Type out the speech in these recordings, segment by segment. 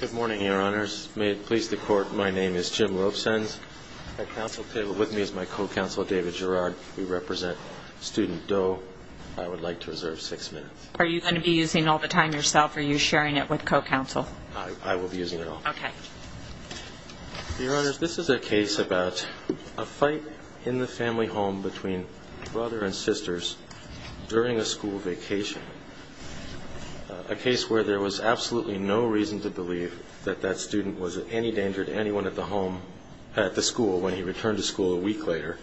Good morning, Your Honors. May it please the Court, my name is Jim Robesons. At counsel table with me is my co-counsel, David Gerrard. We represent student Doe. I would like to reserve six minutes. Are you going to be using all the time yourself or are you sharing it with co-counsel? I will be using it all. Okay. Your Honors, this is a case about a fight in the family home between brother and sisters during a school vacation. A case where there was absolutely no reason to believe that that student was in any danger to anyone at the school when he returned to school a week later.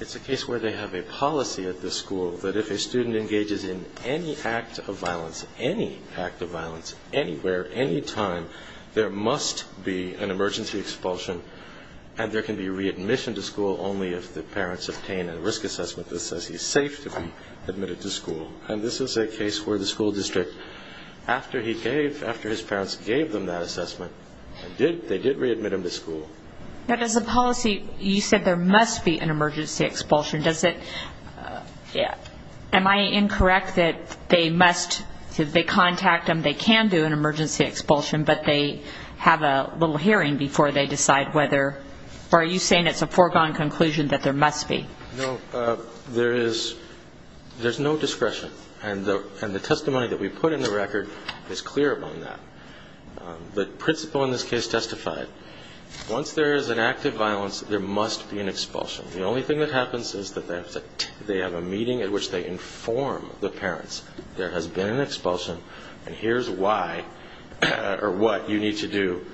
It's a case where they have a policy at the school that if a student engages in any act of violence, any act of violence, anywhere, anytime, there must be an emergency expulsion and there can be readmission to school only if the parents obtain a risk assessment that says he's safe to be admitted to school. And this is a case where the school district, after he gave, after his parents gave them that assessment, they did readmit him to school. Now does the policy, you said there must be an emergency expulsion, does it, am I incorrect that they must, if they contact them, they can do an emergency expulsion, but they have a little hearing before they decide whether, or are you saying it's a foregone conclusion that there must be? No, there is, there's no discretion and the testimony that we put in the record is clear on that. The principle in this case testified, once there is an act of violence, there must be an expulsion. The only thing that happens is that they have a meeting at which they inform the parents there has been an expulsion and here's why or what you need to do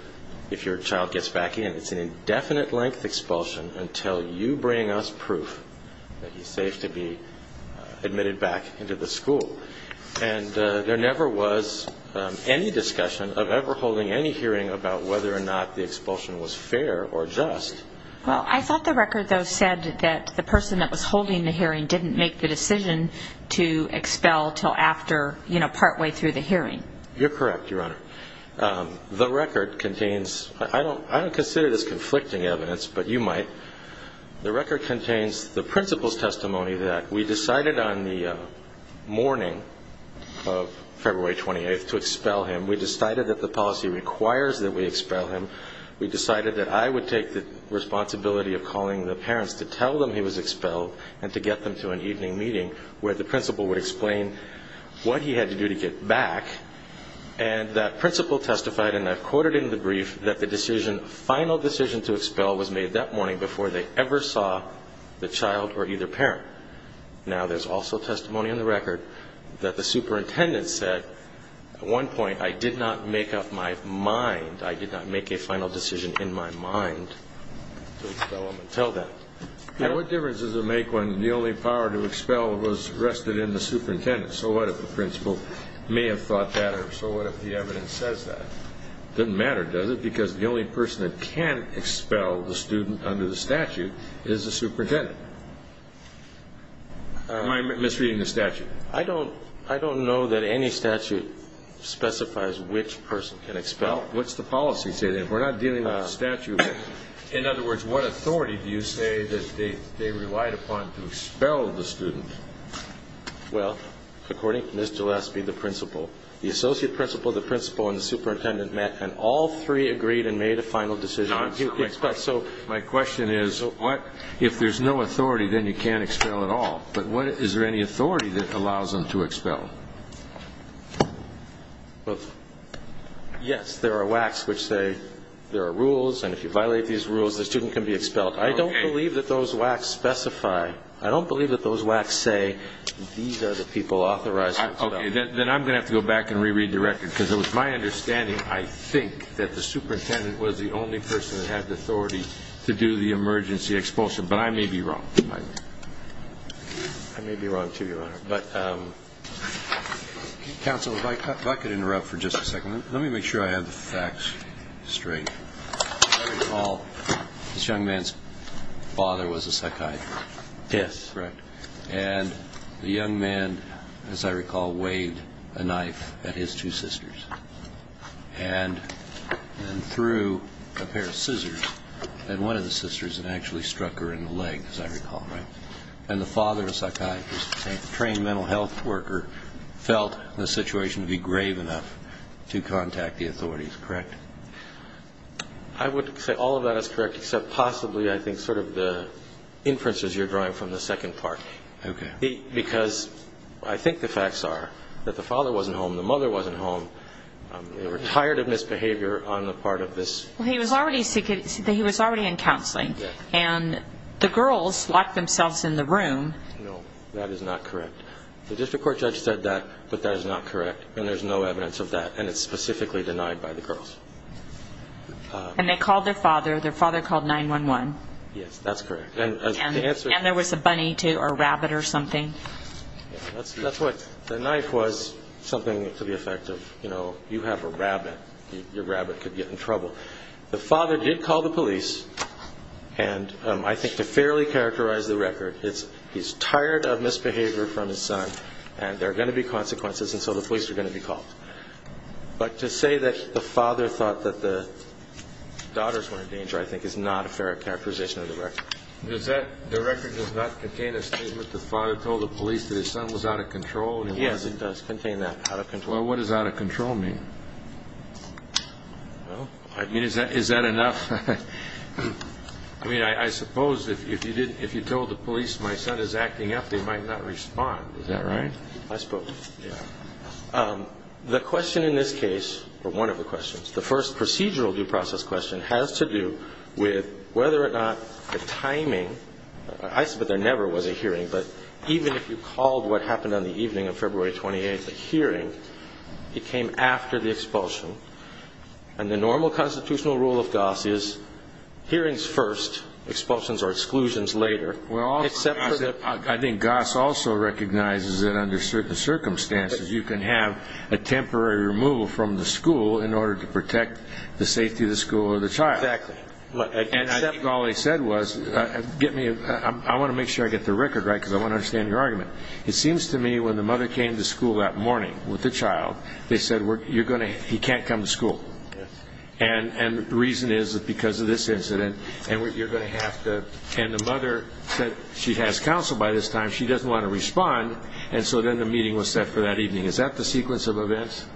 if your child gets back in. It's an indefinite length expulsion until you bring us proof that he's safe to be admitted back into the school. And there never was any discussion of ever holding any hearing about whether or not the expulsion was fair or just. Well, I thought the record though said that the person that was holding the hearing didn't make the decision to expel until after, you know, partway through the hearing. You're correct, Your Honor. The record contains, I don't consider this conflicting evidence, but you might, the record contains the principal's testimony that we decided on the morning of February 28th to expel him. We decided that the policy requires that we expel him. We decided that I would take the responsibility of calling the parents to tell them he was expelled and to get them to an evening meeting where the principal would explain what he had to do to get back and that principal testified, and I've quoted in the brief, that the decision, final decision to expel was made that morning before they ever saw the child or either parent. Now there's also testimony in the record that the superintendent said at one point, I did not make up my mind, I did not make a final decision in my mind to expel him until then. You know, what difference does it make when the only power to expel was rested in the superintendent? So what if the principal may have thought that, or so what if the evidence says that? Doesn't that mean that the only authority to expel the student under the statute is the superintendent? Am I misreading the statute? I don't know that any statute specifies which person can expel. Well, what's the policy say then? We're not dealing with a statute. In other words, what authority do you say that they relied upon to expel the student? Well, according to Ms. Gillespie, the principal, the associate principal, the principal and the superintendent met and all three agreed and made a final decision to expel. My question is, if there's no authority, then you can't expel at all. But is there any authority that allows them to expel? Yes, there are WACs which say there are rules, and if you violate these rules, the student can be expelled. I don't believe that those WACs specify. I don't believe that those WACs say these are the people authorized to expel. Okay, then I'm going to have to go back and re-read the record, because it was my understanding, I think, that the superintendent was the only person that had the authority to do the emergency expulsion. But I may be wrong. I may be wrong, too, Your Honor. But, counsel, if I could interrupt for just a second. Let me make sure I have the facts straight. As I recall, this young man's father was a psychiatrist and his two sisters, and threw a pair of scissors at one of the sisters and actually struck her in the leg, as I recall, right? And the father, a psychiatrist, a trained mental health worker, felt the situation to be grave enough to contact the authorities, correct? I would say all of that is correct, except possibly, I think, sort of the inferences you're drawing from the second part. Okay. Because I think the facts are that the father wasn't home, the mother wasn't home. They were tired of misbehavior on the part of this... Well, he was already in counseling. And the girls locked themselves in the room. No, that is not correct. The district court judge said that, but that is not correct. And there's no evidence of that. And it's specifically denied by the girls. And they called their father. Their father called 911. Yes, that's correct. And the answer is... And there was a bunny or rabbit or something. That's what... The knife was something to the effect of, you know, you have a rabbit. Your rabbit could get in trouble. The father did call the police. And I think to fairly characterize the record, it's he's tired of misbehavior from his son. And there are going to be consequences. And so the police are going to be called. But to say that the father thought that the daughters were in danger, I think, is not a fair characterization of the record. Does that... The record does not contain a statement that the father told the police that his son was out of control? Yes, it does contain that, out of control. Well, what does out of control mean? Well... I mean, is that enough? I mean, I suppose if you told the police my son is acting up, they might not respond. Is that right? I suppose. Yeah. The question in this case, or one of the questions, the first procedural due process question has to do with whether or not the timing... I suppose there never was a hearing. But even if you called what happened on the evening of February 28th a hearing, it came after the expulsion. And the normal constitutional rule of Goss is hearings first, expulsions or exclusions later. Well, I think Goss also recognizes that under certain circumstances, you can have a temporary removal from the school in order to protect the safety of the school or the child. Exactly. And I think all he said was... Get me... I want to make sure I get the record right, because I want to understand your argument. It seems to me when the mother came to school that morning with the child, they said, you're going to... He can't come to school. Yes. And the reason is because of this incident, and you're going to have to... And the mother said she has counsel by this time. She doesn't want to respond. And so then the meeting was set for that evening. Is that the sequence of events?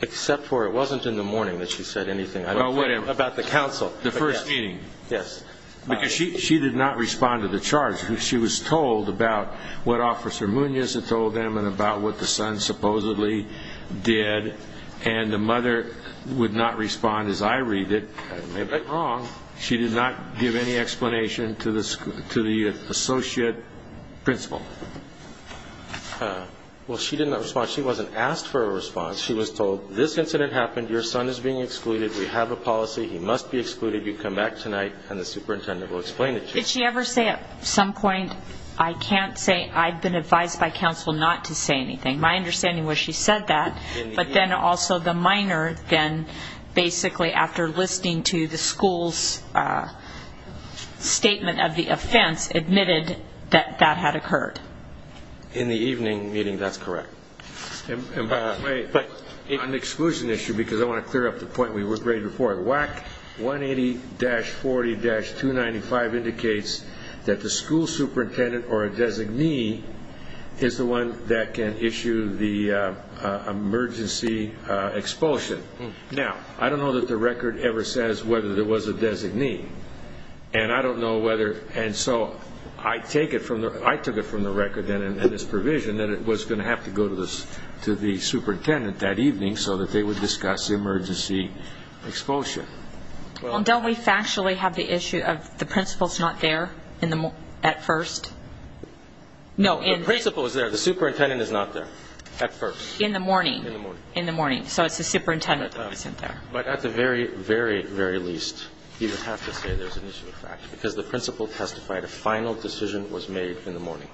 Except for it wasn't in the morning that she said anything. Oh, whatever. About the counsel. The first meeting. Yes. Because she did not respond to the charge. She was told about what Officer Munoz had told them and about what the son supposedly did. And the mother would not respond as I principle. Well, she did not respond. She wasn't asked for a response. She was told, this incident happened, your son is being excluded, we have a policy, he must be excluded, you come back tonight and the superintendent will explain it to you. Did she ever say at some point, I can't say, I've been advised by counsel not to say anything? My understanding was she said that, but then also the minor then basically after listening to the school's statement of the offense, admitted that that had occurred. In the evening meeting, that's correct. And by the way, on the exclusion issue, because I want to clear up the point we were ready for, WAC 180-40-295 indicates that the school superintendent or a designee is the one that can issue the emergency expulsion. Now, I don't know that the record ever says whether there was a designee. And I don't know whether, and so I take it from the record and its provision that it was going to have to go to the superintendent that evening so that they would discuss the emergency expulsion. Well, don't we factually have the issue of the principal's not there at first? No. The principal is there. The superintendent is not there at first. In the morning. In the morning. In the morning. So it's the superintendent that wasn't there. But at the very, very, very least, you would have to say there's an issue of fact, because the principal testified a final decision was made in the morning.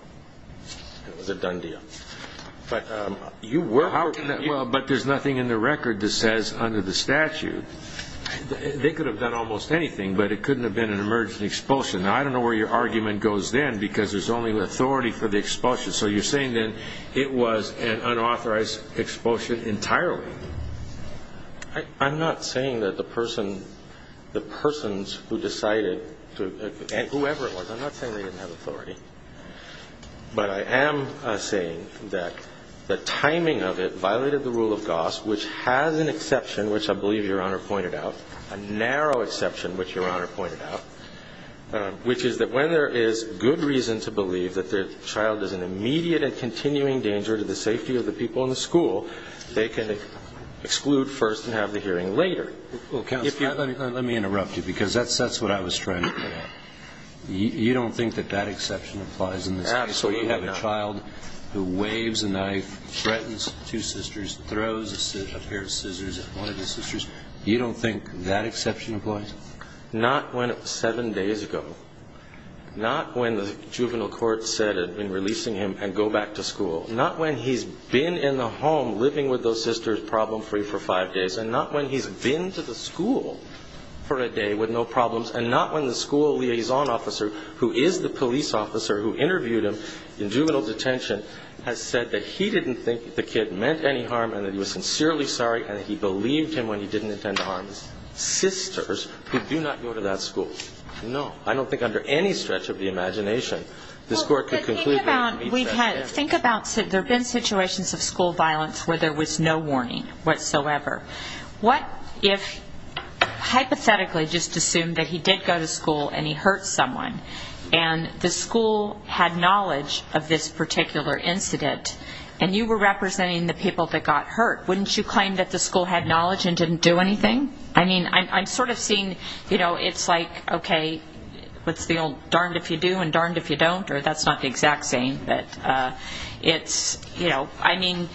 It was a done deal. But you were... But there's nothing in the record that says under the statute. They could have done almost anything, but it couldn't have been an emergency expulsion. Now, I don't know where your argument goes then, because there's only authority for the expulsion. So you're saying then it was an unauthorized expulsion entirely. I'm not saying that the person, the persons who decided, whoever it was, I'm not saying they didn't have authority. But I am saying that the timing of it violated the rule of Goss, which has an exception, which I believe Your Honor pointed out, a narrow exception, which Your Honor pointed out, which is that when there is good reason to believe that the child is an immediate and continuing danger to the safety of the people in the school, they can exclude first and have the hearing later. Well, counsel, if you... Let me interrupt you, because that's what I was trying to get at. You don't think that that exception applies in this case? Absolutely not. So you have a child who waves a knife, threatens two sisters, throws a pair of scissors at one of his sisters. You don't think that exception applies? Not when it was seven days ago. Not when the juvenile court said in releasing him, and go back to school. Not when he's been in the home living with those sisters problem-free for five days. And not when he's been to the school for a day with no problems. And not when the school liaison officer, who is the police officer who interviewed him in juvenile detention, has said that he didn't think the kid meant any harm and that he was sincerely sorry and that he believed him when he didn't intend to harm his sisters, who do not go to that school. No. I don't think under any stretch of the imagination this court could conclude that. Well, but think about... Think about... There have been situations of school violence where there was no warning whatsoever. What if, hypothetically, just assume that he did go to school and he hurt someone, and the school had knowledge of this particular incident, and you were representing the people that got hurt. Wouldn't you claim that the school had knowledge and didn't do anything? I mean, I'm sort of seeing, you know, it's like, okay, what's the old darned if you do and darned if you don't, or that's not the exact same. But it's, you know, I mean,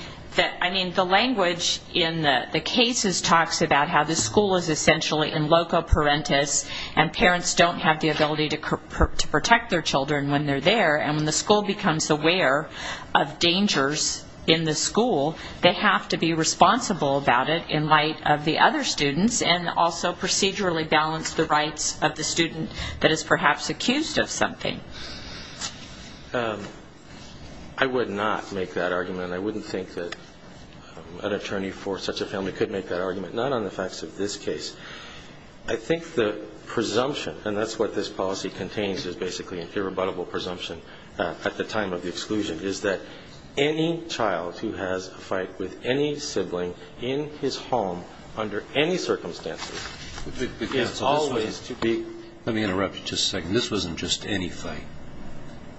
the language in the cases talks about how the school is essentially in loco parentis, and parents don't have the ability to protect their children when they're there, and when the school becomes aware of dangers in the school, they have to be responsible about it in light of the other students, and also procedurally balance the rights of the student that is perhaps accused of something. I would not make that argument. I wouldn't think that an attorney for such a family could make that argument, not on the facts of this case. I think the presumption, and that's what this policy contains, is basically an irrebuttable presumption at the time of the exclusion, is that any child who has a fight with any sibling in his home under any circumstances is always to be ---- Let me interrupt you just a second. This wasn't just any fight.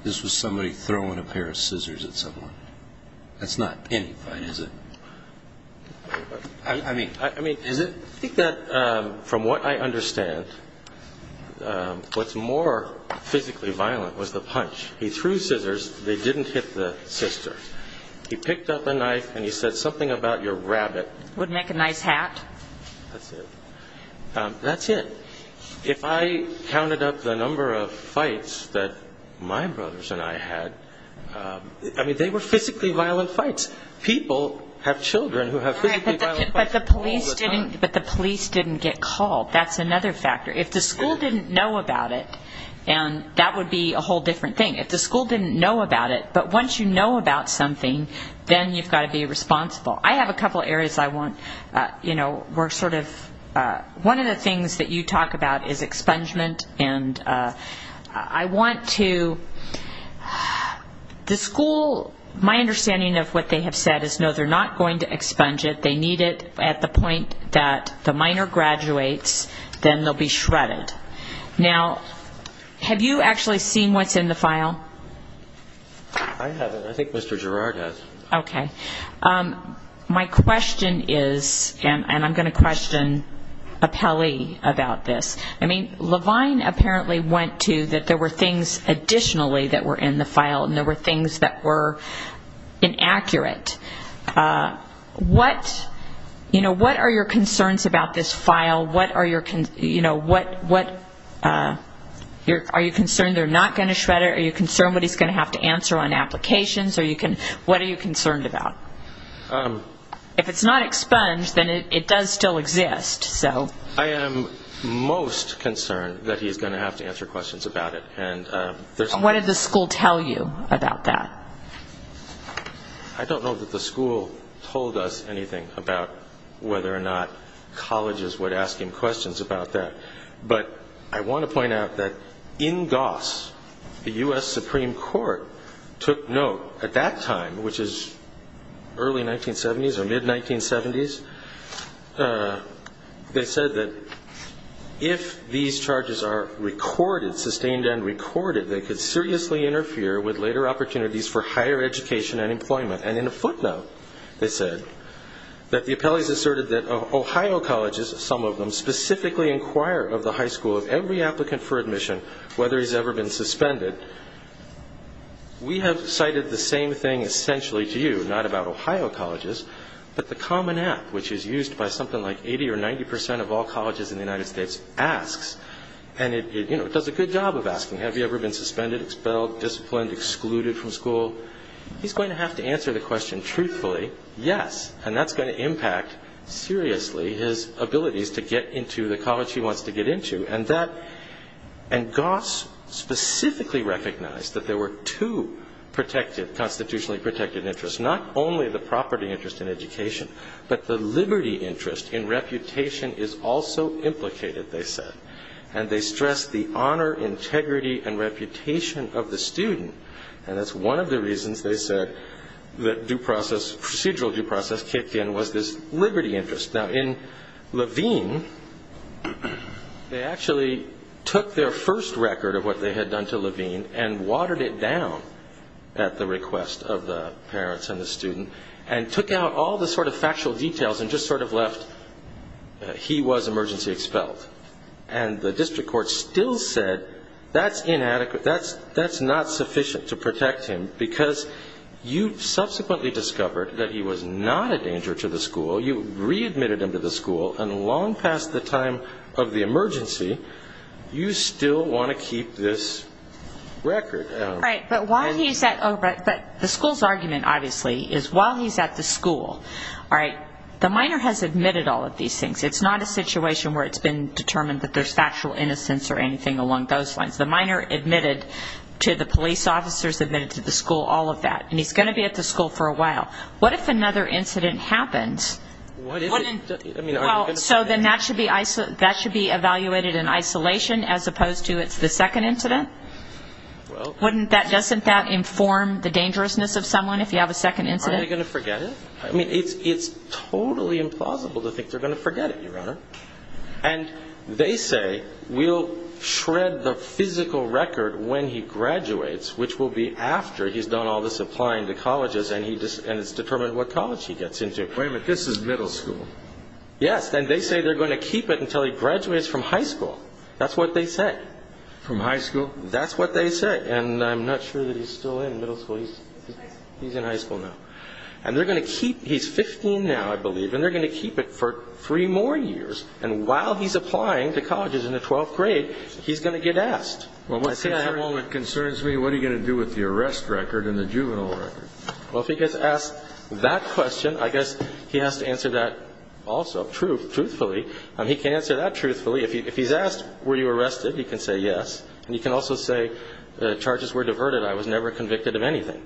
This was somebody throwing a pair of scissors at someone. That's not any fight, is it? I mean, is it? I think that from what I understand, what's more physically violent was the punch. He threw scissors. They didn't hit the sister. He picked up a knife, and he said something about your rabbit. Would make a nice hat. That's it. That's it. If I counted up the number of fights that my brothers and I had, I mean, they were physically violent fights. People have children who have physically violent fights all the time. But the police didn't get called. That's another factor. If the school didn't know about it, and that would be a whole different thing. If the school didn't know about it, but once you know about something, then you've got to be responsible. I have a couple areas I want, you know, we're sort of, one of the things that you talk about is expungement, and I want to, the school, my understanding of what they have said is no, they're not going to expunge it. They need it at the point that the minor graduates, then they'll be shredded. Now, have you actually seen what's in the file? I haven't. I think Mr. Gerard has. Okay. My question is, and I'm going to question Appelli about this. I mean, Levine apparently went to that there were things additionally that were in the file, and there were things that were inaccurate. What, you know, what are your concerns about this file? What are your, you know, what, are you concerned they're not going to shred it? Are you concerned that he's going to have to answer on applications? What are you concerned about? If it's not expunged, then it does still exist. I am most concerned that he's going to have to answer questions about it. What did the school tell you about that? I don't know that the school told us anything about whether or not colleges would ask him questions about that, but I want to point out that in Goss, the U.S. Supreme Court took note at that time, which is early 1970s or mid-1970s. They said that if these charges are recorded, sustained and recorded, they could seriously interfere with later opportunities for higher education and employment. And in a footnote, they said that the Appellees asserted that Ohio colleges, some of them, specifically inquire of the high school of every applicant for admission whether he's ever been suspended. We have cited the same thing essentially to you, not about Ohio colleges, but the Common of all colleges in the United States asks, and it does a good job of asking, have you ever been suspended, expelled, disciplined, excluded from school? He's going to have to answer the question truthfully, yes, and that's going to impact seriously his abilities to get into the college he wants to get into. And Goss specifically recognized that there were two constitutionally protected interests, not only the property interest in education, but the liberty interest in reputation is also implicated, they said. And they stressed the honor, integrity and reputation of the student. And that's one of the reasons they said that procedural due process kicked in was this liberty interest. Now, in Levine, they actually took their first record of what they had done to Levine and the student and took out all the sort of factual details and just sort of left he was emergency expelled. And the district court still said that's inadequate, that's not sufficient to protect him because you subsequently discovered that he was not a danger to the school, you readmitted him to the school, and long past the time of the emergency, you still want to keep this record. But the school's argument, obviously, is while he's at the school, all right, the minor has admitted all of these things. It's not a situation where it's been determined that there's factual innocence or anything along those lines. The minor admitted to the police officers, admitted to the school, all of that. And he's going to be at the school for a while. What if another incident happens? So then that should be evaluated in isolation as opposed to it's the second incident? Wouldn't that, doesn't that inform the dangerousness of someone if you have a second incident? Are they going to forget it? I mean, it's totally implausible to think they're going to forget it, Your Honor. And they say we'll shred the physical record when he graduates, which will be after he's done all this applying to colleges and it's determined what college he gets into. Wait a minute, this is middle school. Yes, and they say they're going to keep it until he graduates from high school. That's what they say. From high school? That's what they say. And I'm not sure that he's still in middle school. He's in high school now. And they're going to keep, he's 15 now, I believe, and they're going to keep it for three more years. And while he's applying to colleges in the 12th grade, he's going to get asked. Well, what concerns me, what are you going to do with the arrest record and the juvenile record? Well, if he gets asked that question, I guess he has to answer that also truthfully. He can say yes. And he can also say the charges were diverted. I was never convicted of anything.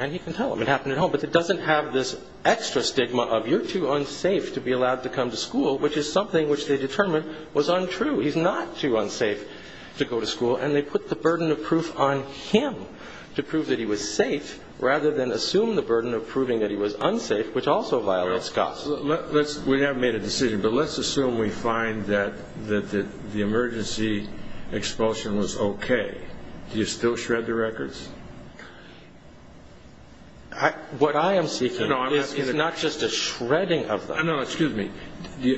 And he can tell them it happened at home. But it doesn't have this extra stigma of you're too unsafe to be allowed to come to school, which is something which they determined was untrue. He's not too unsafe to go to school. And they put the burden of proof on him to prove that he was safe rather than assume the burden of proving that he was unsafe, which also violates COPS. We haven't made a decision, but let's assume we find that the emergency expulsion was okay. Do you still shred the records? What I am seeking is not just a shredding of them. No, excuse me.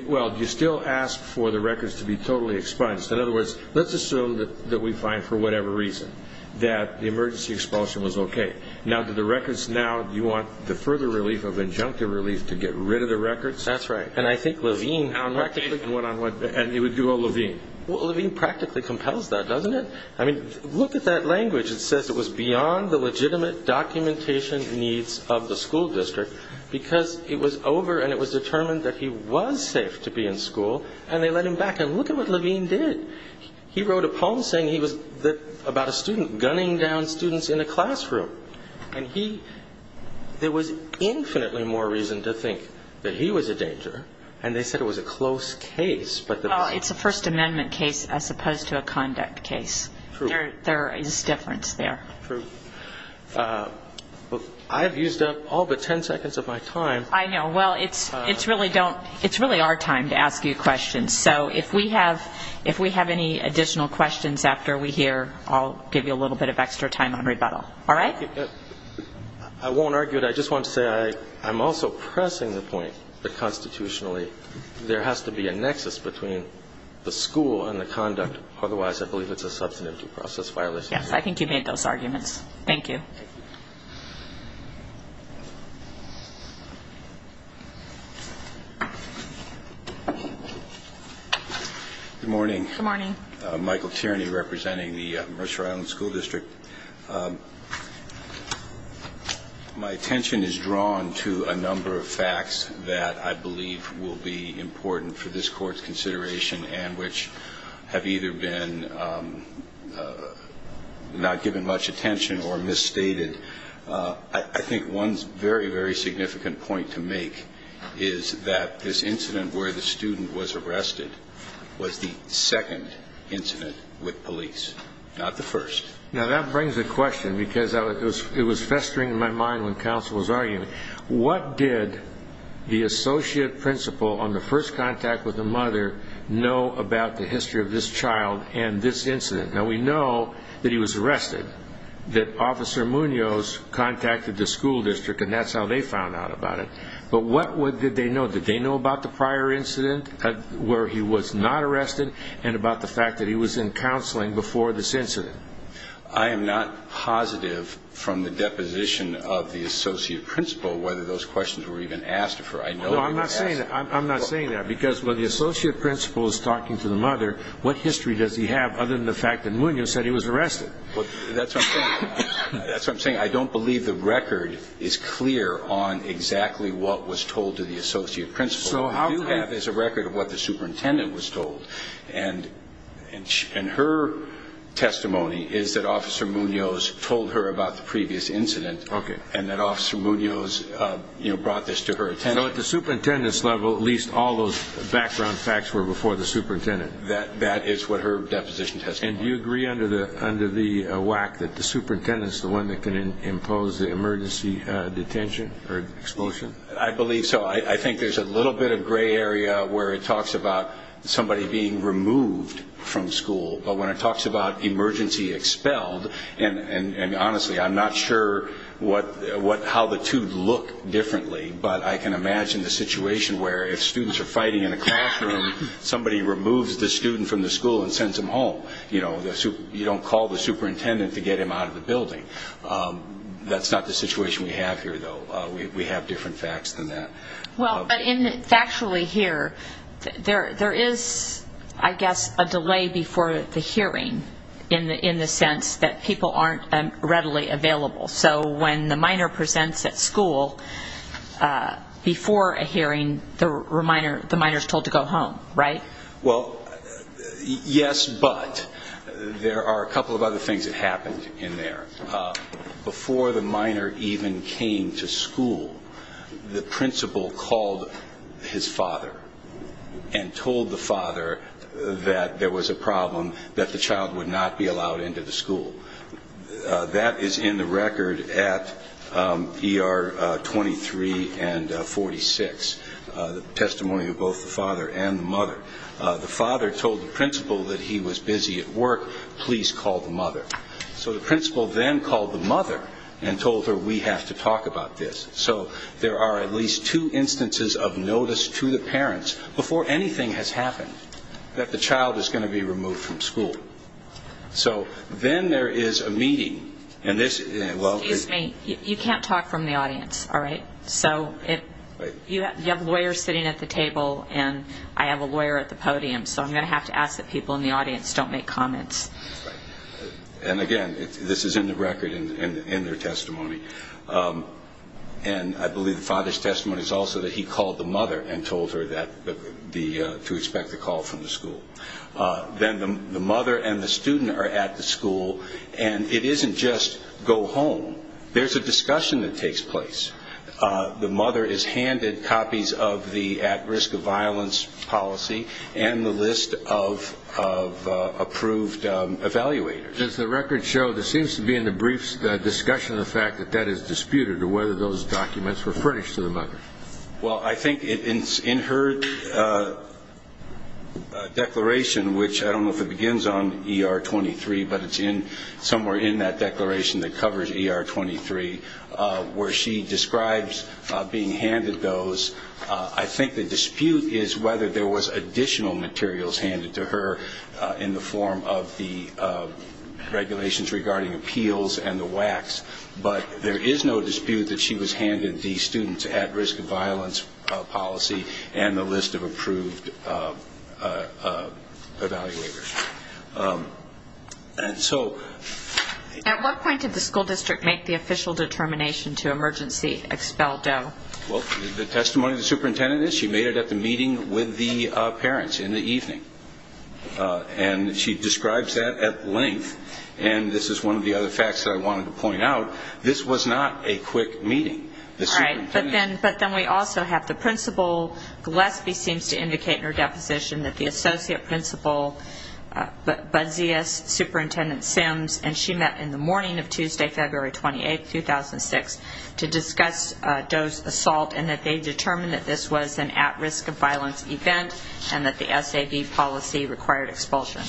Well, do you still ask for the records to be totally expunged? In other words, let's assume that we find, for whatever reason, that the emergency expulsion was okay. Now, do the records now, do you want the further relief of injunctive relief to get rid of the records? That's right. And I think Levine practically... One on one. And it would do all Levine. Well, Levine practically compels that, doesn't it? I mean, look at that language. It says it was beyond the legitimate documentation needs of the school district because it was over and it was determined that he was safe to be in school. And they let him back. And look at what Levine did. He wrote a poem saying he was about a student gunning down students in a classroom. And there was infinitely more reason to think that he was a danger. And they said it was a close case. Well, it's a First Amendment case as opposed to a conduct case. True. There is difference there. True. I've used up all but ten seconds of my time. I know. Well, it's really our time to ask you questions. So if we have any additional questions after we hear, I'll give you a little bit of extra time on rebuttal. All right? I won't argue it. I just want to say I'm also pressing the point that constitutionally there has to be a nexus between the school and the conduct. Otherwise, I believe it's a substantive process violation. Yes. I think you made those arguments. Thank you. Good morning. Good morning. Michael Tierney representing the Mercer Island School District. My attention is drawn to a number of facts that I believe will be important for this Court's consideration and which have either been not given much attention or misstated. I think one very, very significant point to make is that this incident where the student was arrested was the second incident with police, not the first. Now, that brings a question because it was festering in my mind when counsel was arguing. What did the associate principal on the first contact with the mother know about the history of this child and this incident? Now, we know that he was arrested, that Officer Munoz contacted the school district, and that's how they found out about it. But what did they know? Did they know about the prior incident where he was not arrested and about the fact that he was in counseling before this incident? I am not positive from the deposition of the associate principal whether those questions were even asked. No, I'm not saying that. I'm not saying that because when the associate principal is talking to the mother, what history does he have other than the fact that Munoz said he was arrested? That's what I'm saying. I don't believe the record is clear on exactly what was told to the associate principal. What we do have is a record of what the superintendent was told, and her testimony is that Officer Munoz told her about the previous incident and that Officer Munoz brought this to her attention. So at the superintendent's level, at least all those background facts were before the superintendent? That is what her deposition testifies. And do you agree under the WAC that the superintendent is the one that can impose the emergency detention or expulsion? I believe so. I think there's a little bit of gray area where it talks about somebody being removed from school, but when it talks about emergency expelled, and honestly, I'm not sure how the two look differently, but I can imagine the situation where if students are fighting in a classroom, somebody removes the student from the school and sends him home. You don't call the superintendent to get him out of the building. That's not the situation we have here, though. We have different facts than that. But factually here, there is, I guess, a delay before the hearing in the sense that people aren't readily available. So when the minor presents at school before a hearing, the minor is told to go home, right? Well, yes, but there are a couple of other things that happened in there. Before the minor even came to school, the principal called his father and told the father that there was a problem, that the child would not be allowed into the school. That is in the record at ER 23 and 46, the testimony of both the father and the mother. The father told the principal that he was busy at work, please call the mother. So the principal then called the mother and told her we have to talk about this. So there are at least two instances of notice to the parents before anything has happened that the child is going to be removed from school. So then there is a meeting. Excuse me, you can't talk from the audience, all right? So you have lawyers sitting at the table and I have a lawyer at the podium, so I'm going to have to ask that people in the audience don't make comments. And again, this is in the record in their testimony. And I believe the father's testimony is also that he called the mother and told her to expect a call from the school. Then the mother and the student are at the school, and it isn't just go home. There's a discussion that takes place. The mother is handed copies of the at-risk of violence policy and the list of approved evaluators. As the record shows, it seems to be in the briefs the discussion of the fact that that is disputed or whether those documents were furnished to the mother. Well, I think in her declaration, which I don't know if it begins on ER 23, but it's somewhere in that declaration that covers ER 23, where she describes being handed those, I think the dispute is whether there was additional materials handed to her in the form of the regulations regarding appeals and the WACs. But there is no dispute that she was handed the student's at-risk of violence policy and the list of approved evaluators. And so... At what point did the school district make the official determination to emergency expel Doe? Well, the testimony of the superintendent is she made it at the meeting with the parents in the evening. And she describes that at length. And this is one of the other facts that I wanted to point out. This was not a quick meeting. All right. But then we also have the principal. Gillespie seems to indicate in her deposition that the associate principal, Budzius, Superintendent Sims, and she met in the morning of Tuesday, February 28, 2006, to discuss Doe's assault and that they determined that this was an at-risk of violence event and that the SAV policy required expulsion.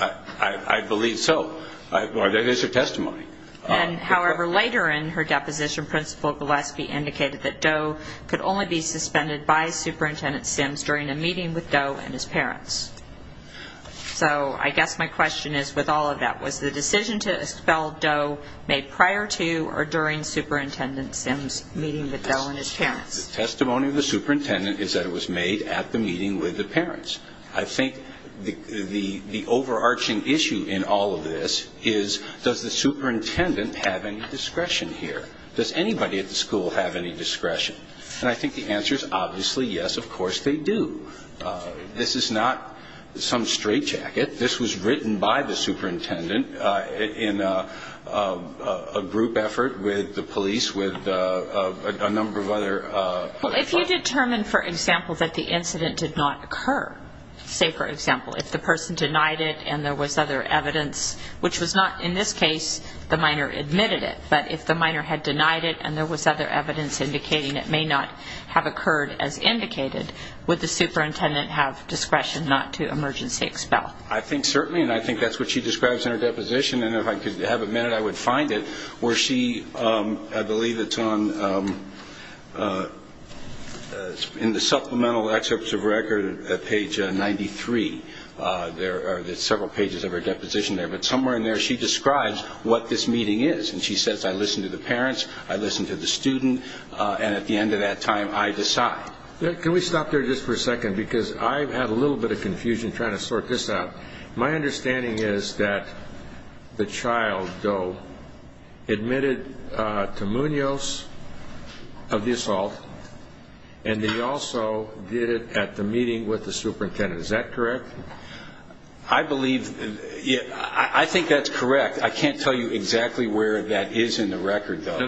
I believe so. That is her testimony. However, later in her deposition, Principal Gillespie indicated that Doe could only be suspended by Superintendent Sims during a meeting with Doe and his parents. So I guess my question is, with all of that, was the decision to expel Doe made prior to or during Superintendent Sims' meeting with Doe and his parents? The testimony of the superintendent is that it was made at the meeting with the parents. I think the overarching issue in all of this is, does the superintendent have any discretion here? Does anybody at the school have any discretion? And I think the answer is obviously yes, of course they do. This is not some straitjacket. This was written by the superintendent in a group effort with the police, with a number of other folks. Well, if you determine, for example, that the incident did not occur, say, for example, if the person denied it and there was other evidence, which was not in this case the minor admitted it, but if the minor had denied it and there was other evidence indicating it may not have occurred as indicated, would the superintendent have discretion not to emergency expel? I think certainly, and I think that's what she describes in her deposition, and if I could have a minute I would find it, where she, I believe it's in the supplemental excerpts of record at page 93. There are several pages of her deposition there, but somewhere in there she describes what this meeting is, and she says, I listened to the parents, I listened to the student, and at the end of that time I decide. Can we stop there just for a second, because I've had a little bit of confusion trying to sort this out. My understanding is that the child, though, admitted to Munoz of the assault, and he also did it at the meeting with the superintendent. Is that correct? I believe, I think that's correct. I can't tell you exactly where that is in the record, though.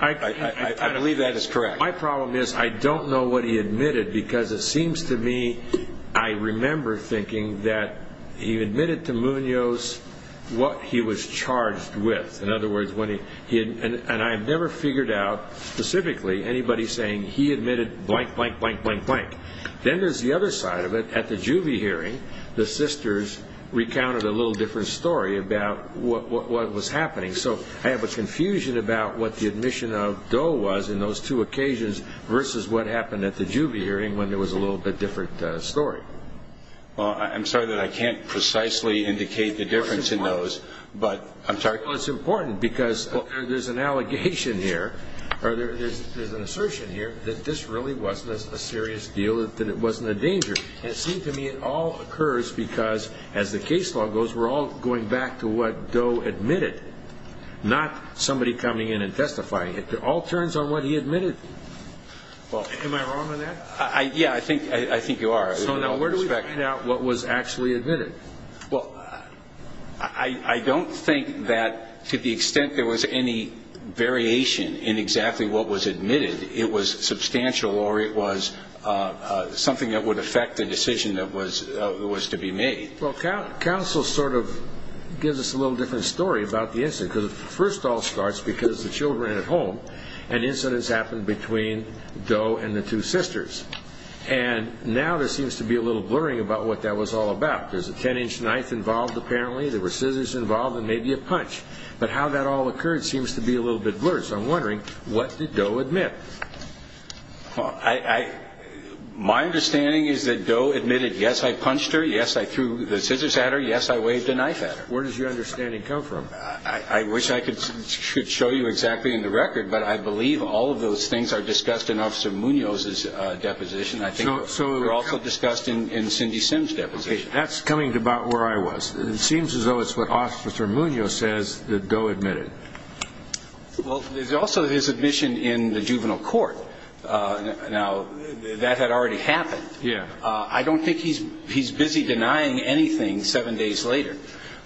I believe that is correct. My problem is I don't know what he admitted, because it seems to me I remember thinking that he admitted to Munoz what he was charged with. In other words, and I've never figured out specifically anybody saying he admitted blank, blank, blank, blank, blank. Then there's the other side of it. At the Juvie hearing, the sisters recounted a little different story about what was happening. So I have a confusion about what the admission of Doe was in those two occasions versus what happened at the Juvie hearing when there was a little bit different story. I'm sorry that I can't precisely indicate the difference in those, but I'm sorry. Well, it's important, because there's an allegation here, or there's an assertion here, that this really wasn't a serious deal, that it wasn't a danger. It seems to me it all occurs because, as the case law goes, we're all going back to what Doe admitted, not somebody coming in and testifying. It all turns on what he admitted. Am I wrong on that? Yeah, I think you are. So now where do we find out what was actually admitted? Well, I don't think that, to the extent there was any variation in exactly what was admitted, it was substantial or it was something that would affect the decision that was to be made. Well, counsel sort of gives us a little different story about the incident. First of all, it starts because the children are at home, and incidents happen between Doe and the two sisters. And now there seems to be a little blurring about what that was all about. There's a 10-inch knife involved, apparently. There were scissors involved, and maybe a punch. But how that all occurred seems to be a little bit blurred. So I'm wondering, what did Doe admit? Well, my understanding is that Doe admitted, yes, I punched her, yes, I threw the scissors at her, yes, I waved a knife at her. Where does your understanding come from? I wish I could show you exactly in the record, but I believe all of those things are discussed in Officer Munoz's deposition. I think they're also discussed in Cindy Simms' deposition. That's coming to about where I was. It seems as though it's what Officer Munoz says that Doe admitted. Well, there's also his admission in the juvenile court. Now, that had already happened. I don't think he's busy denying anything seven days later.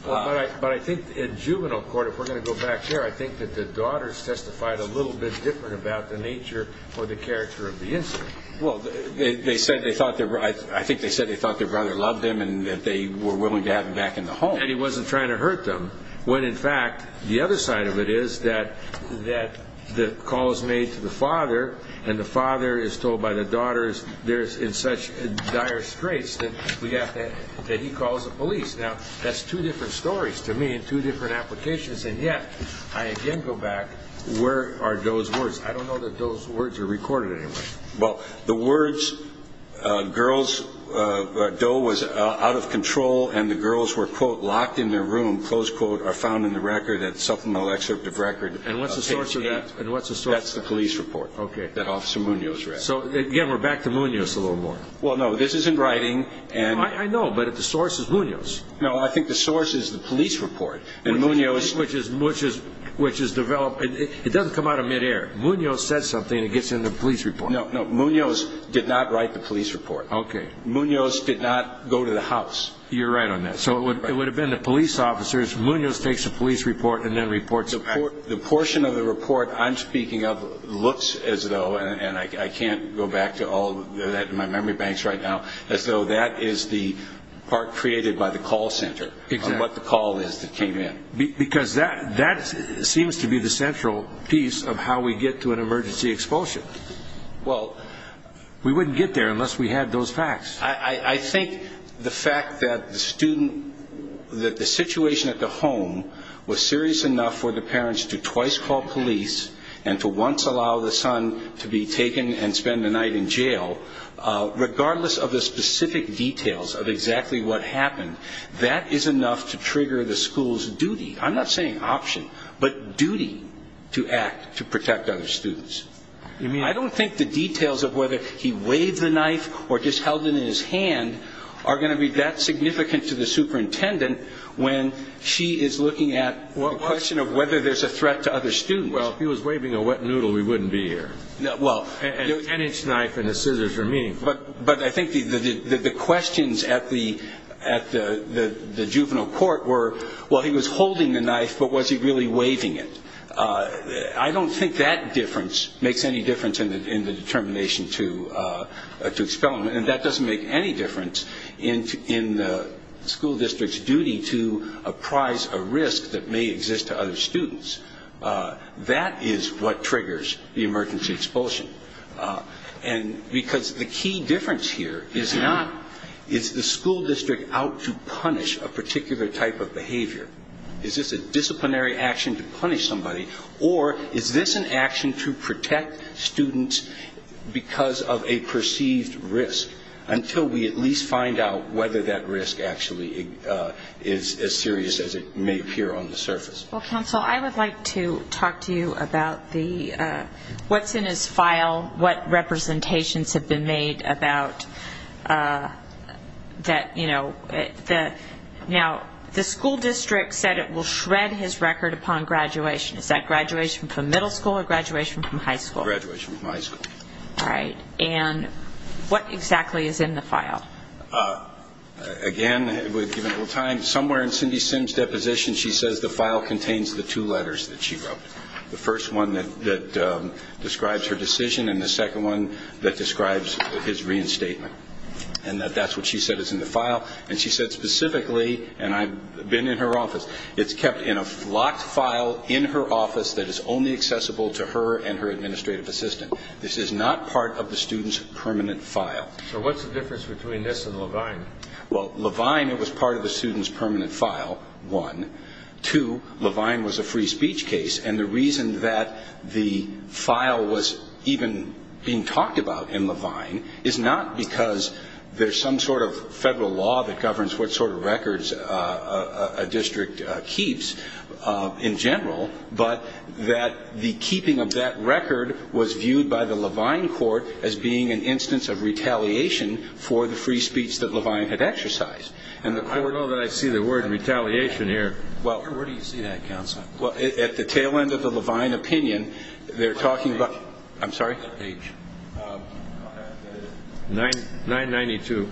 But I think in juvenile court, if we're going to go back there, I think that the daughters testified a little bit different about the nature or the character of the incident. Well, I think they said they thought their brother loved them and that they were willing to have him back in the home. And he wasn't trying to hurt them, when, in fact, the other side of it is that the call is made to the father, and the father is told by the daughters in such dire straits that he calls the police. Now, that's two different stories to me and two different applications. And yet, I again go back, where are Doe's words? I don't know that Doe's words are recorded anywhere. Well, the words, Doe was out of control, and the girls were, quote, locked in their room, close quote, are found in the supplemental excerpt of record. And what's the source of that? That's the police report that Officer Munoz read. So, again, we're back to Munoz a little more. Well, no, this isn't writing. I know, but the source is Munoz. No, I think the source is the police report, and Munoz. Which is developed. It doesn't come out of midair. Munoz said something, and it gets in the police report. No, no, Munoz did not write the police report. Okay. Munoz did not go to the house. You're right on that. So it would have been the police officers. Munoz takes a police report and then reports it back. The portion of the report I'm speaking of looks as though, and I can't go back to all that in my memory banks right now, as though that is the part created by the call center. Exactly. On what the call is that came in. Because that seems to be the central piece of how we get to an emergency expulsion. Well, we wouldn't get there unless we had those facts. I think the fact that the student, that the situation at the home, was serious enough for the parents to twice call police and to once allow the son to be taken and spend the night in jail, regardless of the specific details of exactly what happened, that is enough to trigger the school's duty. I'm not saying option, but duty to act to protect other students. I don't think the details of whether he waved the knife or just held it in his hand are going to be that significant to the superintendent when she is looking at the question of whether there's a threat to other students. Well, if he was waving a wet noodle, we wouldn't be here. An inch knife and the scissors are meaningful. But I think the questions at the juvenile court were, well, he was holding the knife, but was he really waving it? I don't think that difference makes any difference in the determination to expel him, and that doesn't make any difference in the school district's duty to apprise a risk that may exist to other students. That is what triggers the emergency expulsion, because the key difference here is the school district out to punish a particular type of behavior. Is this a disciplinary action to punish somebody, or is this an action to protect students because of a perceived risk, until we at least find out whether that risk actually is as serious as it may appear on the surface. Well, counsel, I would like to talk to you about what's in his file, what representations have been made about that, you know. Now, the school district said it will shred his record upon graduation. Is that graduation from middle school or graduation from high school? Graduation from high school. All right. And what exactly is in the file? Again, we've given it a little time. Somewhere in Cindy Simms' deposition she says the file contains the two letters that she wrote, the first one that describes her decision and the second one that describes his reinstatement, and that that's what she said is in the file. And she said specifically, and I've been in her office, it's kept in a locked file in her office that is only accessible to her and her administrative assistant. This is not part of the student's permanent file. So what's the difference between this and Levine? Well, Levine, it was part of the student's permanent file, one. Two, Levine was a free speech case, and the reason that the file was even being talked about in Levine is not because there's some sort of federal law that governs what sort of records a district keeps in general, but that the keeping of that record was viewed by the Levine court as being an instance of retaliation for the free speech that Levine had exercised. I don't know that I see the word retaliation here. Where do you see that, counsel? Well, at the tail end of the Levine opinion, they're talking about – I'm sorry? 992.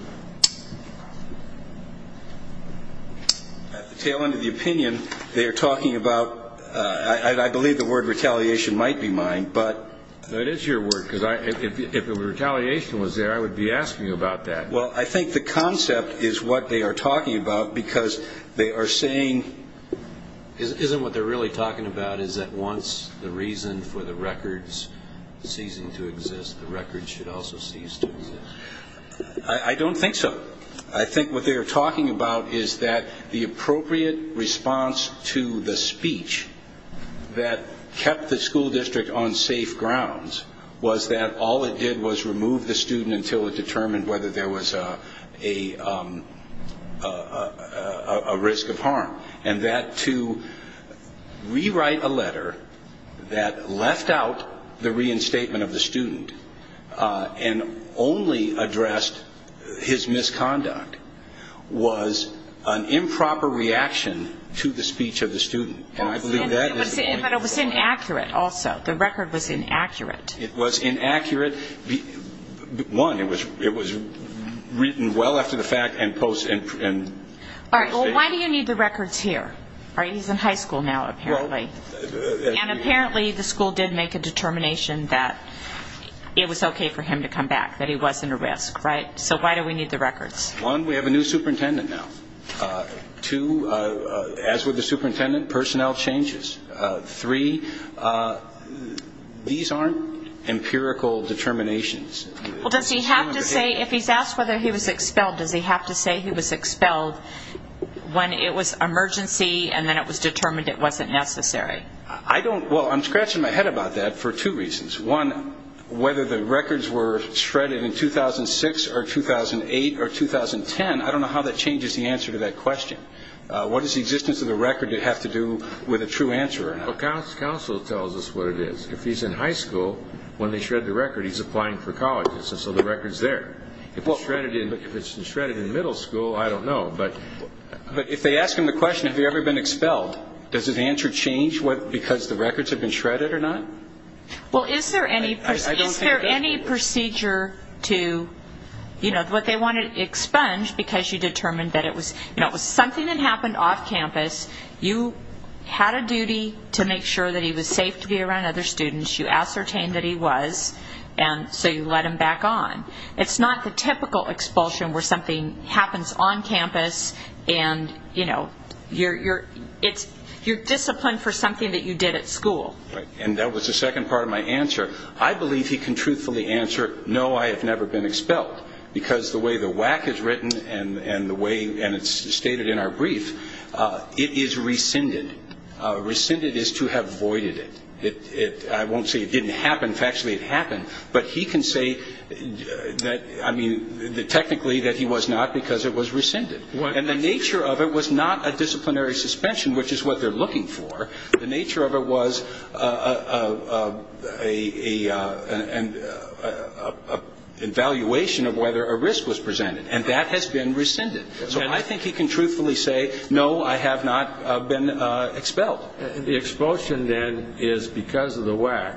At the tail end of the opinion, they're talking about – I believe the word retaliation might be mine, but – That is your word, because if retaliation was there, I would be asking you about that. Well, I think the concept is what they are talking about, because they are saying – Isn't what they're really talking about is that once the reason for the records ceasing to exist, the records should also cease to exist? I don't think so. I think what they are talking about is that the appropriate response to the speech that kept the school district on safe grounds was that all it did was remove the student until it determined whether there was a risk of harm, and that to rewrite a letter that left out the reinstatement of the student and only addressed his misconduct was an improper reaction to the speech of the student. And I believe that is the point. But it was inaccurate also. The record was inaccurate. It was inaccurate. One, it was written well after the fact and – All right. Well, why do you need the records here? All right. He's in high school now, apparently. And apparently the school did make a determination that it was okay for him to come back, that he wasn't a risk, right? So why do we need the records? One, we have a new superintendent now. Two, as with the superintendent, personnel changes. Three, these aren't empirical determinations. Well, does he have to say – if he's asked whether he was expelled, does he have to say he was expelled when it was emergency and then it was determined it wasn't necessary? I don't – well, I'm scratching my head about that for two reasons. One, whether the records were shredded in 2006 or 2008 or 2010, I don't know how that changes the answer to that question. What does the existence of the record have to do with a true answer? Well, counsel tells us what it is. If he's in high school, when they shred the record, he's applying for college. And so the record's there. If it's shredded in middle school, I don't know. But if they ask him the question, have you ever been expelled, does his answer change because the records have been shredded or not? Well, is there any procedure to – you know, what they want to expunge because you determined that it was something that happened off campus. You had a duty to make sure that he was safe to be around other students. You ascertained that he was, and so you let him back on. It's not the typical expulsion where something happens on campus and, you know, you're disciplined for something that you did at school. And that was the second part of my answer. I believe he can truthfully answer, no, I have never been expelled because the way the WAC is written and the way – and it's stated in our brief, it is rescinded. Rescinded is to have voided it. I won't say it didn't happen. But he can say that – I mean, technically that he was not because it was rescinded. And the nature of it was not a disciplinary suspension, which is what they're looking for. The nature of it was an evaluation of whether a risk was presented, and that has been rescinded. So I think he can truthfully say, no, I have not been expelled. Well, the expulsion then is because of the WAC.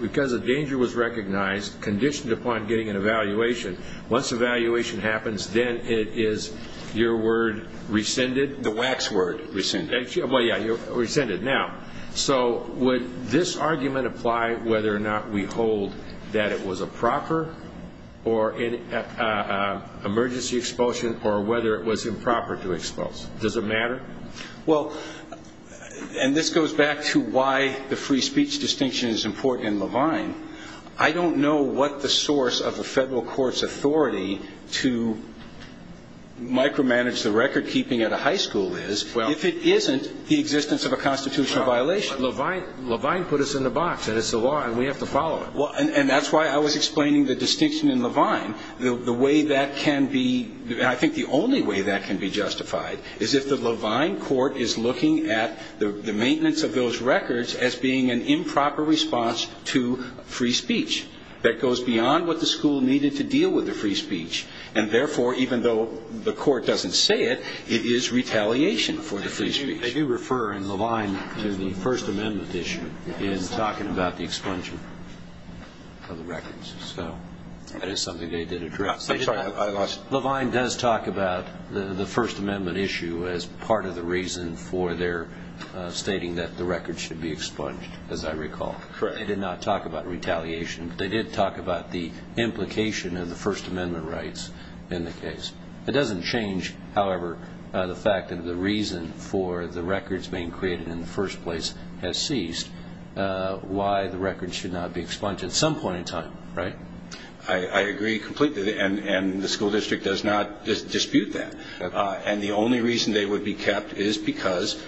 Because a danger was recognized, conditioned upon getting an evaluation, once evaluation happens, then it is your word rescinded? The WAC's word, rescinded. Well, yeah, rescinded. Now, so would this argument apply whether or not we hold that it was a proper emergency expulsion or whether it was improper to expel? Does it matter? Well, and this goes back to why the free speech distinction is important in Levine. I don't know what the source of a federal court's authority to micromanage the record-keeping at a high school is if it isn't the existence of a constitutional violation. Levine put us in the box, and it's the law, and we have to follow it. And that's why I was explaining the distinction in Levine. I think the only way that can be justified is if the Levine court is looking at the maintenance of those records as being an improper response to free speech that goes beyond what the school needed to deal with the free speech. And therefore, even though the court doesn't say it, it is retaliation for the free speech. They do refer in Levine to the First Amendment issue in talking about the expulsion of the records. So that is something they did address. I'm sorry, I lost. Levine does talk about the First Amendment issue as part of the reason for their stating that the records should be expunged, as I recall. They did not talk about retaliation. They did talk about the implication of the First Amendment rights in the case. It doesn't change, however, the fact that the reason for the records being created in the first place has ceased, why the records should not be expunged at some point in time, right? I agree completely, and the school district does not dispute that. And the only reason they would be kept is because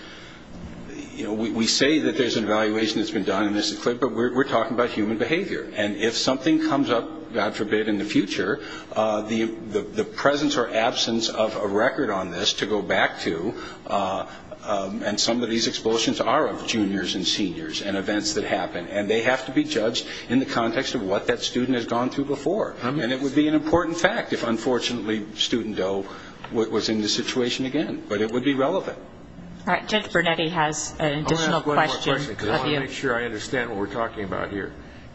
we say that there's an evaluation that's been done, but we're talking about human behavior. And if something comes up, God forbid, in the future, the presence or absence of a record on this to go back to, and some of these expulsions are of juniors and seniors and events that happen, and they have to be judged in the context of what that student has gone through before. And it would be an important fact if, unfortunately, Student Doe was in this situation again. But it would be relevant. All right, Judge Bernetti has an additional question of you. I'm going to ask one more question because I want to make sure I understand what we're talking about here.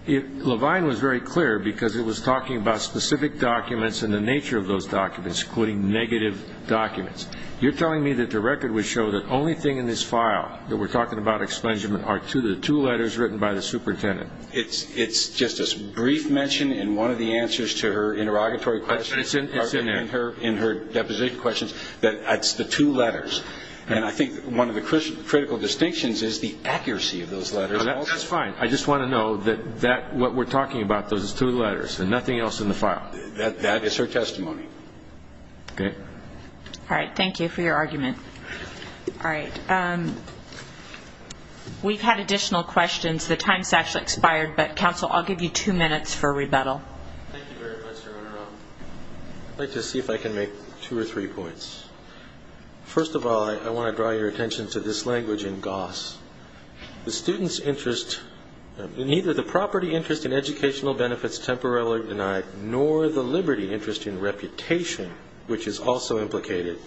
Levine was very clear because it was talking about specific documents and the nature of those documents, including negative documents. You're telling me that the record would show the only thing in this file that we're talking about expungement are the two letters written by the superintendent. It's just a brief mention in one of the answers to her interrogatory questions, in her deposition questions, that it's the two letters. And I think one of the critical distinctions is the accuracy of those letters. That's fine. I just want to know that what we're talking about, those two letters and nothing else in the file. That is her testimony. Okay. All right. Thank you for your argument. All right. We've had additional questions. The time has actually expired, but, counsel, I'll give you two minutes for rebuttal. Thank you very much, Your Honor. I'd like to see if I can make two or three points. First of all, I want to draw your attention to this language in Goss. The student's interest, neither the property interest in educational benefits temporarily denied nor the liberty interest in reputation, which is also implicated,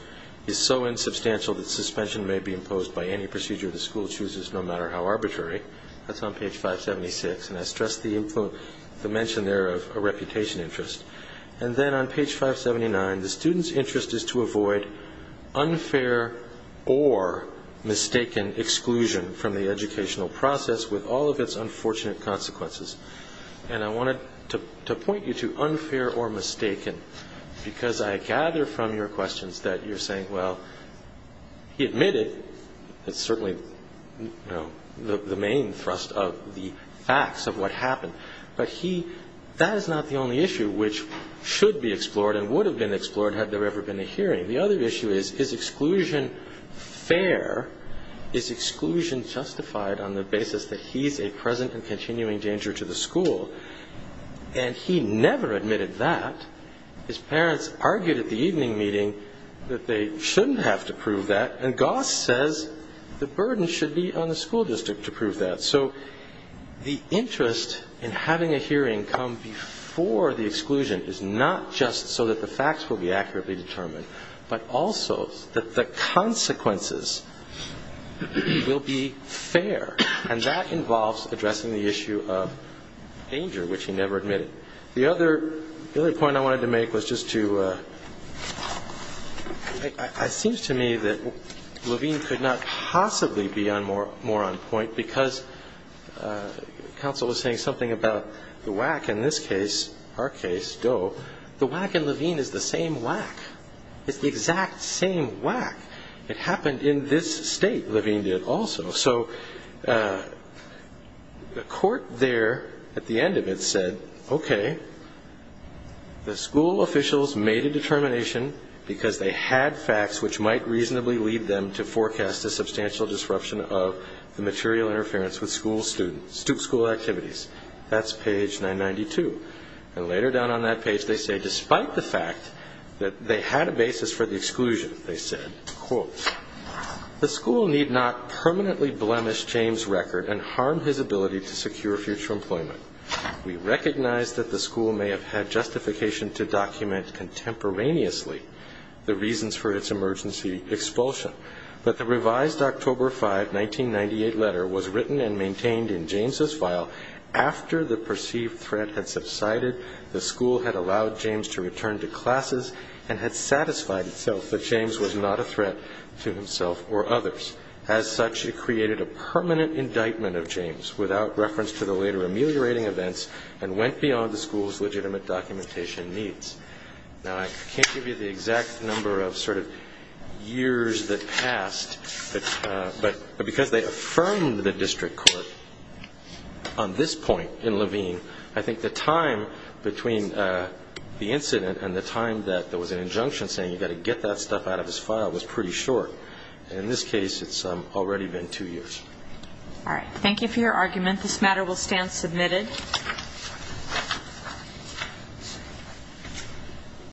is so insubstantial that suspension may be imposed by any procedure the school chooses, no matter how arbitrary. That's on page 576, and I stress the mention there of a reputation interest. And then on page 579, the student's interest is to avoid unfair or mistaken exclusion from the educational process with all of its unfortunate consequences. And I wanted to point you to unfair or mistaken because I gather from your questions that you're saying, well, he admitted, it's certainly the main thrust of the facts of what happened, but that is not the only issue which should be explored and would have been explored had there ever been a hearing. The other issue is, is exclusion fair? Is exclusion justified on the basis that he's a present and continuing danger to the school? And he never admitted that. His parents argued at the evening meeting that they shouldn't have to prove that, and Goss says the burden should be on the school district to prove that. So the interest in having a hearing come before the exclusion is not just so that the facts will be accurately determined, but also that the consequences will be fair. And that involves addressing the issue of danger, which he never admitted. The other point I wanted to make was just to, it seems to me that Levine could not possibly be more on point because counsel was saying something about the whack. In this case, our case, Doe, the whack in Levine is the same whack. It's the exact same whack. It happened in this state, Levine did also. So the court there at the end of it said, okay, the school officials made a determination because they had facts which might reasonably lead them to forecast a substantial disruption of the material interference with school activities. That's page 992. And later down on that page they say, despite the fact that they had a basis for the exclusion, they said, quote, the school need not permanently blemish James' record and harm his ability to secure future employment. We recognize that the school may have had justification to document contemporaneously the reasons for its emergency expulsion, but the revised October 5, 1998 letter was written and maintained in James' file after the perceived threat had subsided, the school had allowed James to return to classes and had satisfied itself that James was not a threat to himself or others. As such, it created a permanent indictment of James without reference to the later ameliorating events and went beyond the school's legitimate documentation needs. Now, I can't give you the exact number of sort of years that passed, but because they affirmed the district court on this point in Levine, I think the time between the incident and the time that there was an injunction saying you've got to get that stuff out of his file was pretty short. In this case it's already been two years. All right. Thank you for your argument. This matter will stand submitted.